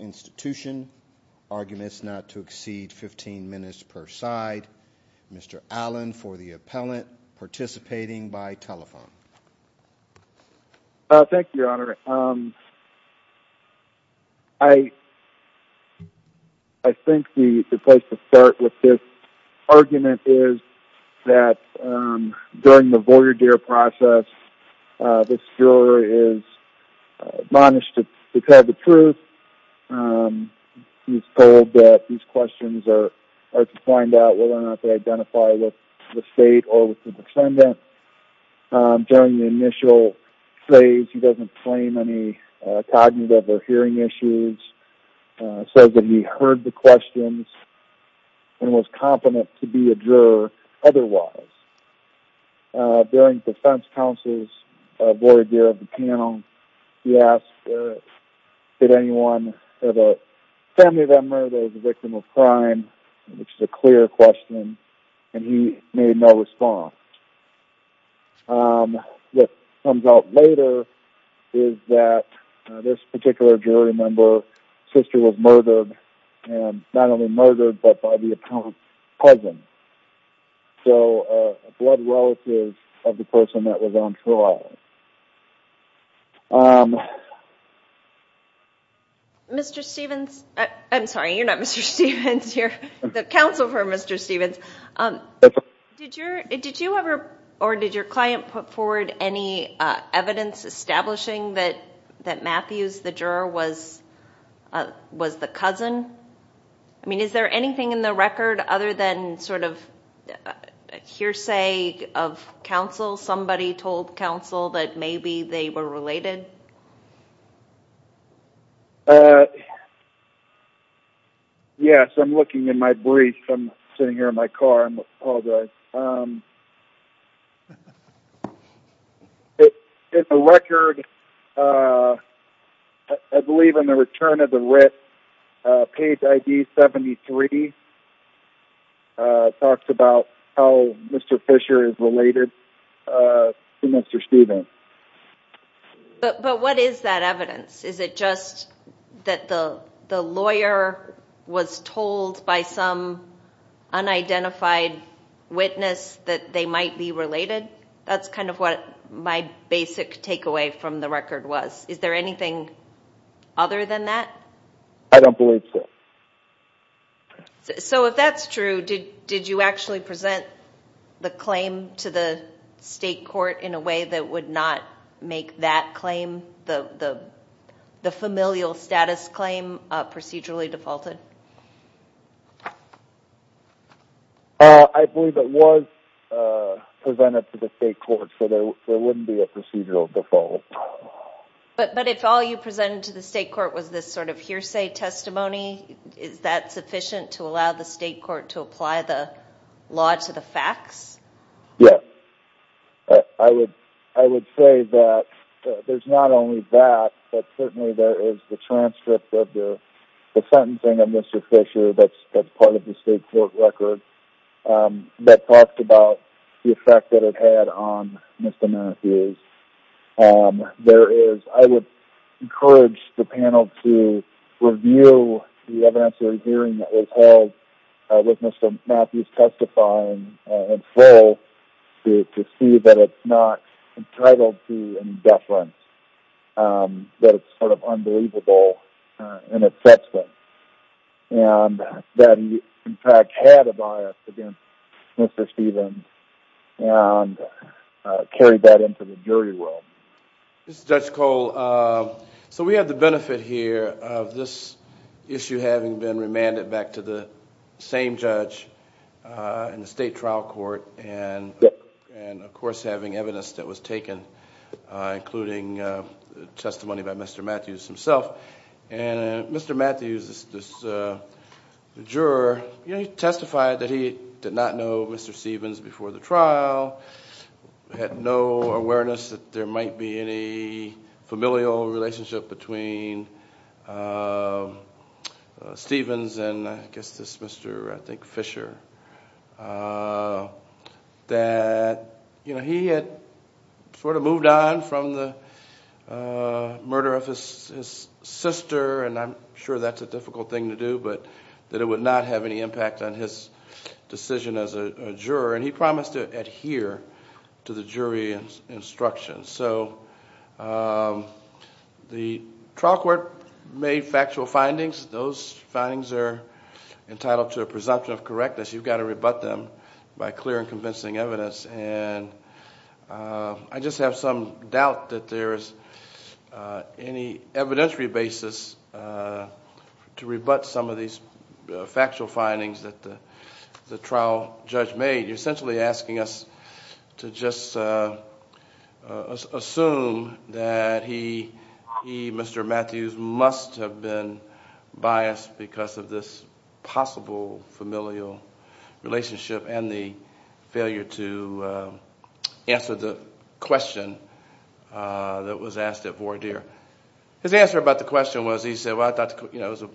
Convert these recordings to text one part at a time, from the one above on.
Institution. Arguments not to exceed 15 minutes per side. Mr. Allen for the appellant, participating by telephone. Thank you, your honor. I think the place to start with this argument is that during the Voyageur process, this juror is admonished to tell the truth. He's told that these questions are to find out whether or not they identify with the state or with the descendant. During the initial phase, he doesn't claim any cognitive or hearing issues. Says that he heard the questions and was confident to be a juror otherwise. During defense counsel's Voyageur of the panel, he asked did anyone have a family member that was a victim of crime, which is a clear question, and he made no response. What comes out later is that this particular jury member's sister was murdered, not only murdered, but by the appellant's cousin. So a blood relative of the person that was on trial. Mr. Stevens, I'm sorry, you're not Mr. Stevens. You're the counsel for Mr. Stevens. Did you ever or did your client put forward any evidence establishing that Matthews, the juror, was the cousin? I mean, is there anything in the record other than sort of hearsay of counsel, somebody told counsel that maybe they were related? Yes, I'm looking in my brief. I'm sitting here in my car. I apologize. In the record, I believe in the return of the writ, page ID 73 talks about how Mr. Fisher is related to Mr. Stevens. But what is that evidence? Is it just that the lawyer was told by some unidentified witness that they might be related? That's kind of what my basic takeaway from the record was. Is there anything other than that? I don't believe so. So if that's true, did you actually present the claim to the state court in a way that would not make that claim, the familial status claim, procedurally defaulted? I believe it was presented to the state court, so there wouldn't be a procedural default. But if all you presented to the state court was this sort of hearsay testimony, is that sufficient to allow the state court to apply the law to the facts? Yes. I would say that there's not only that, but certainly there is the transcript of the sentencing of Mr. Fisher that's part of the state court record that talked about the effect that it had on Mr. Matthews. I would encourage the panel to review the evidentiary hearing that was held with Mr. Matthews testifying in full to see that it's not entitled to any deference, that it's sort of unbelievable and offensive, and that he in fact had a bias against Mr. Stevens and carried that into the jury room. This is Judge Cole. So we have the benefit here of this issue having been remanded back to the same judge in the state trial court, and of course having evidence that was taken, including testimony by Mr. Matthews himself. And Mr. Matthews, the juror, testified that he did not know Mr. Stevens before the trial, had no awareness that there might be any familial relationship between Stevens and I guess this Mr., I think Fisher. That he had sort of moved on from the murder of his sister, and I'm sure that's a difficult thing to do, but that it would not have any impact on his decision as a juror, and he promised to adhere to the jury instructions. So the trial court made factual findings. Those findings are entitled to a presumption of correctness. You've got to rebut them by clear and convincing evidence, and I just have some doubt that there is any evidentiary basis to rebut some of these factual findings that the trial judge made. You're essentially asking us to just assume that he, Mr. Matthews, must have been biased because of this possible familial relationship and the failure to answer the question that was asked at voir dire. His answer about the question was, he said, well, I thought it was a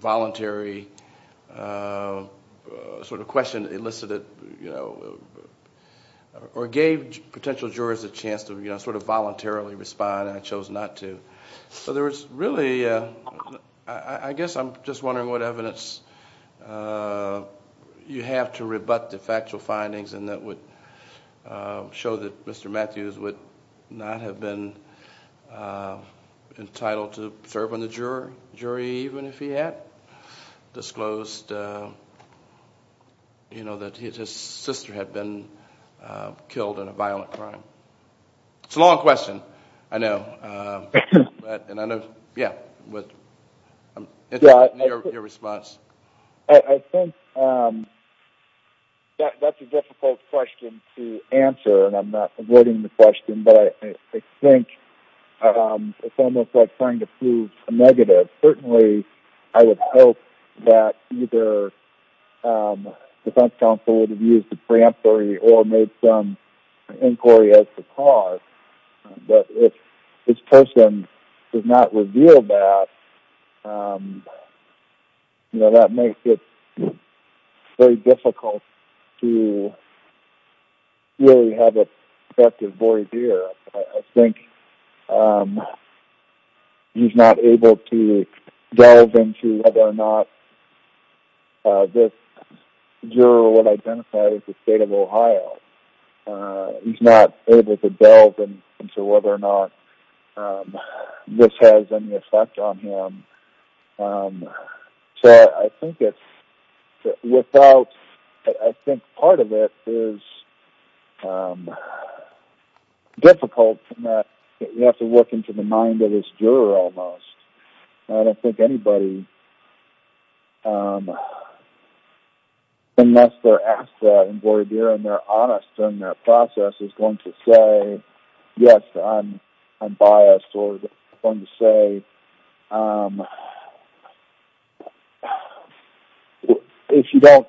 voluntary sort of question that elicited or gave potential jurors a chance to sort of voluntarily respond, and I chose not to. So there was really, I guess I'm just wondering what evidence you have to rebut the factual findings and that would show that Mr. Matthews would not have been entitled to serve on the jury even if he had disclosed that his sister had been killed in a violent crime. It's a long question, I know. And I know, yeah, I'm interested in your response. I think that's a difficult question to answer, and I'm not avoiding the question, but I think it's almost like trying to prove a negative. Certainly, I would hope that either the defense counsel would have used the preemptory or made some inquiry as to cause, but if this person does not reveal that, that makes it very difficult to really have an effective voir dire. I think he's not able to delve into whether or not this juror would identify as the state of Ohio. He's not able to delve into whether or not this has any effect on him. So I think part of it is difficult in that you have to look into the mind of this juror almost. I don't think anybody, unless they're asked that in voir dire and they're honest in their process, is going to say, yes, I'm biased. If you don't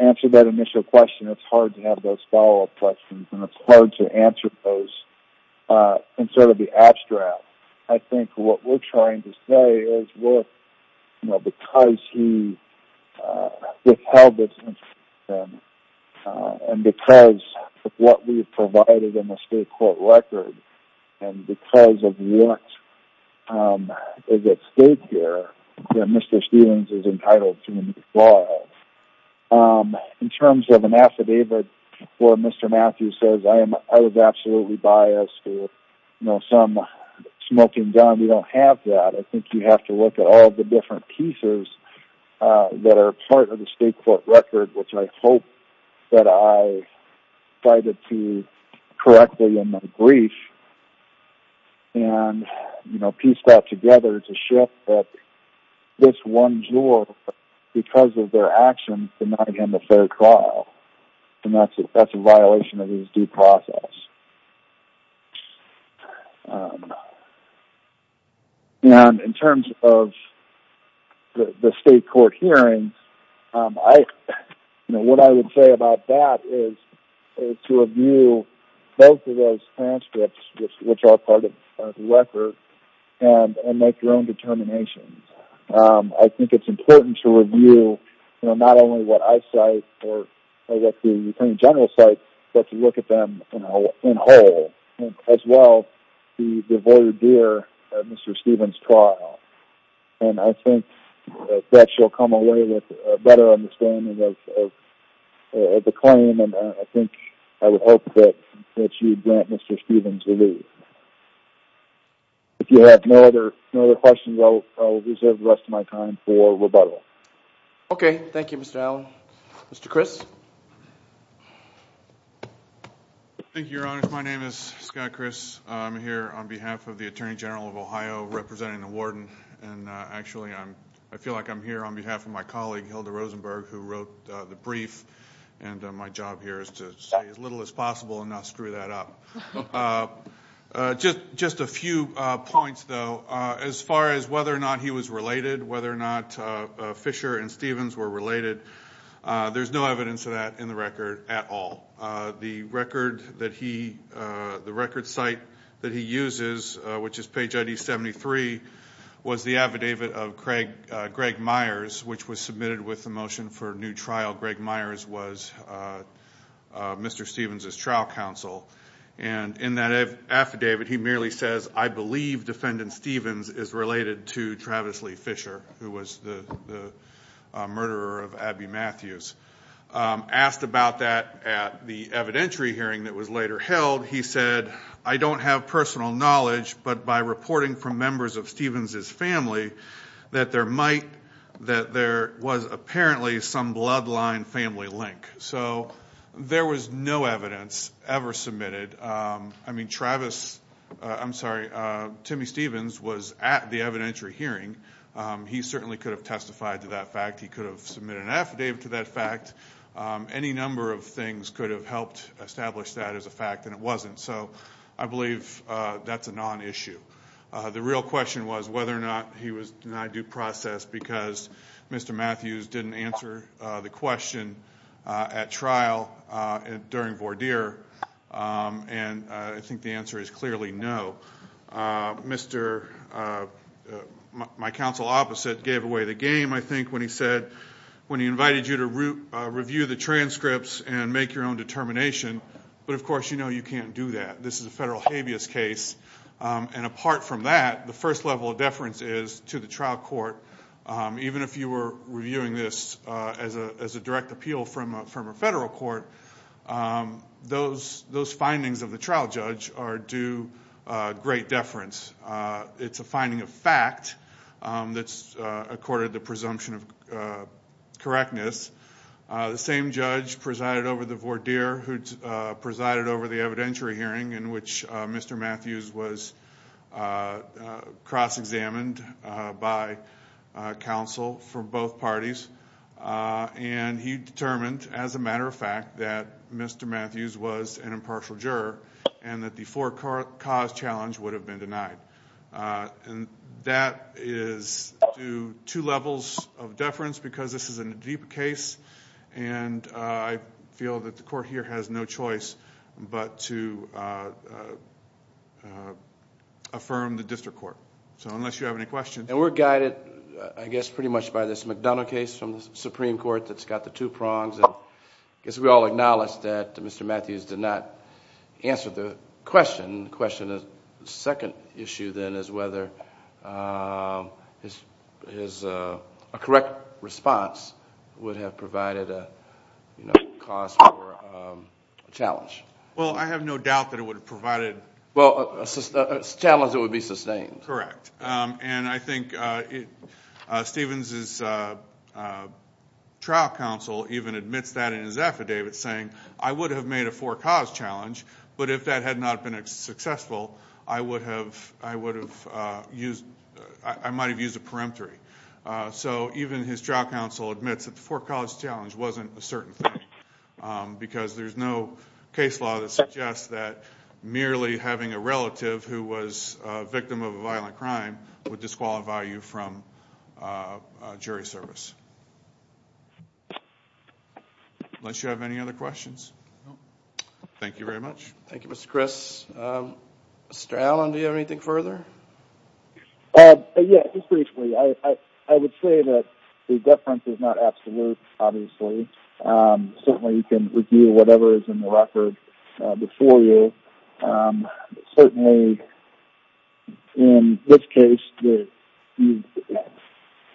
answer that initial question, it's hard to have those follow-up questions, and it's hard to answer those and sort of be abstract. I think what we're trying to say is that because he withheld this information, and because of what we've provided in the state court record, and because of what is at stake here, Mr. Stephens is entitled to withdraw. In terms of an affidavit where Mr. Matthews says I was absolutely biased or some smoking gun, we don't have that. I think you have to look at all the different pieces that are part of the state court record, which I hope that I cited correctly in my brief. And piece that together to show that this one juror, because of their actions, did not get into fair trial. And that's a violation of his due process. And in terms of the state court hearings, what I would say about that is to review both of those transcripts, which are part of the record, and make your own determinations. I think it's important to review not only what I cite or what the attorney general cites, but to look at them in whole. As well, the voir dire of Mr. Stephens' trial. And I think that you'll come away with a better understanding of the claim, and I think I would hope that you grant Mr. Stephens relief. If you have no other questions, I will reserve the rest of my time for rebuttal. Okay. Thank you, Mr. Allen. Mr. Chris? Thank you, Your Honor. My name is Scott Chris. I'm here on behalf of the Attorney General of Ohio, representing the warden. And actually, I feel like I'm here on behalf of my colleague, Hilda Rosenberg, who wrote the brief. And my job here is to say as little as possible and not screw that up. Just a few points, though. As far as whether or not he was related, whether or not Fisher and Stephens were related, there's no evidence of that in the record at all. The record site that he uses, which is page ID 73, was the affidavit of Greg Myers, which was submitted with the motion for new trial. Greg Myers was Mr. Stephens' trial counsel. And in that affidavit, he merely says, I believe defendant Stephens is related to Travis Lee Fisher, who was the murderer of Abby Matthews. Asked about that at the evidentiary hearing that was later held, he said, I don't have personal knowledge, but by reporting from members of Stephens' family, that there was apparently some bloodline family link. There was no evidence ever submitted. Timmy Stephens was at the evidentiary hearing. He certainly could have testified to that fact. He could have submitted an affidavit to that fact. Any number of things could have helped establish that as a fact, and it wasn't. So I believe that's a non-issue. The real question was whether or not he was denied due process because Mr. Matthews didn't answer the question. At trial, during voir dire, and I think the answer is clearly no. My counsel opposite gave away the game, I think, when he said, when he invited you to review the transcripts and make your own determination, but of course you know you can't do that. This is a federal habeas case. And apart from that, the first level of deference is to the trial court, even if you were reviewing this as a direct appeal from a federal court, those findings of the trial judge are due great deference. It's a finding of fact that's accorded the presumption of correctness. The same judge presided over the voir dire who presided over the evidentiary hearing in which Mr. Matthews was cross-examined by counsel from both parties. And he determined, as a matter of fact, that Mr. Matthews was an impartial juror and that the four cause challenge would have been denied. And that is due two levels of deference because this is a deep case, and I feel that the court here has no choice but to affirm the district court. So unless you have any questions... And we're guided, I guess, pretty much by this McDonough case from the Supreme Court that's got the two prongs. I guess we all acknowledge that Mr. Matthews did not answer the question. The second issue, then, is whether a correct response would have provided a cause for a challenge. Well, I have no doubt that it would have provided... Well, a challenge that would be sustained. Correct. And I think Stevens' trial counsel even admits that in his affidavit saying, I would have made a four cause challenge, but if that had not been successful, I might have used a peremptory. So even his trial counsel admits that the four cause challenge wasn't a certain thing because there's no case law that suggests that merely having a relative who was a victim of a violent crime would disqualify you from jury service. Unless you have any other questions. No. Thank you very much. Thank you, Mr. Chris. Mr. Allen, do you have anything further? Yes, just briefly. I would say that the deference is not absolute, obviously. Certainly, you can review whatever is in the record before you. Certainly, in this case, you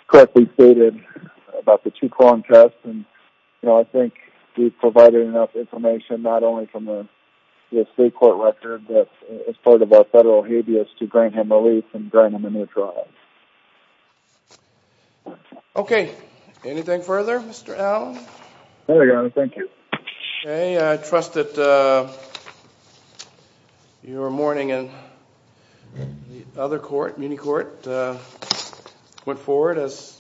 correctly stated about the two-prong test, and I think we provided enough information not only from the state court record, but as part of our federal habeas to grant him relief and grant him a new trial. Okay. Anything further, Mr. Allen? No, thank you. I trust that your morning in the other court, Muni Court, went forward as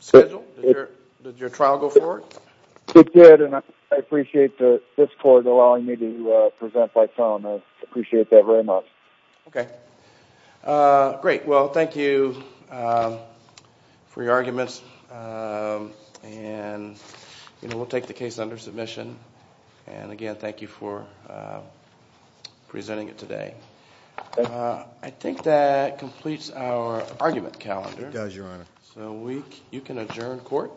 scheduled. Did your trial go forward? It did, and I appreciate this court allowing me to present by phone. I appreciate that very much. Okay. Great. Well, thank you for your arguments, and we'll take the case under submission. Again, thank you for presenting it today. I think that completes our argument calendar. It does, Your Honor. You can adjourn court.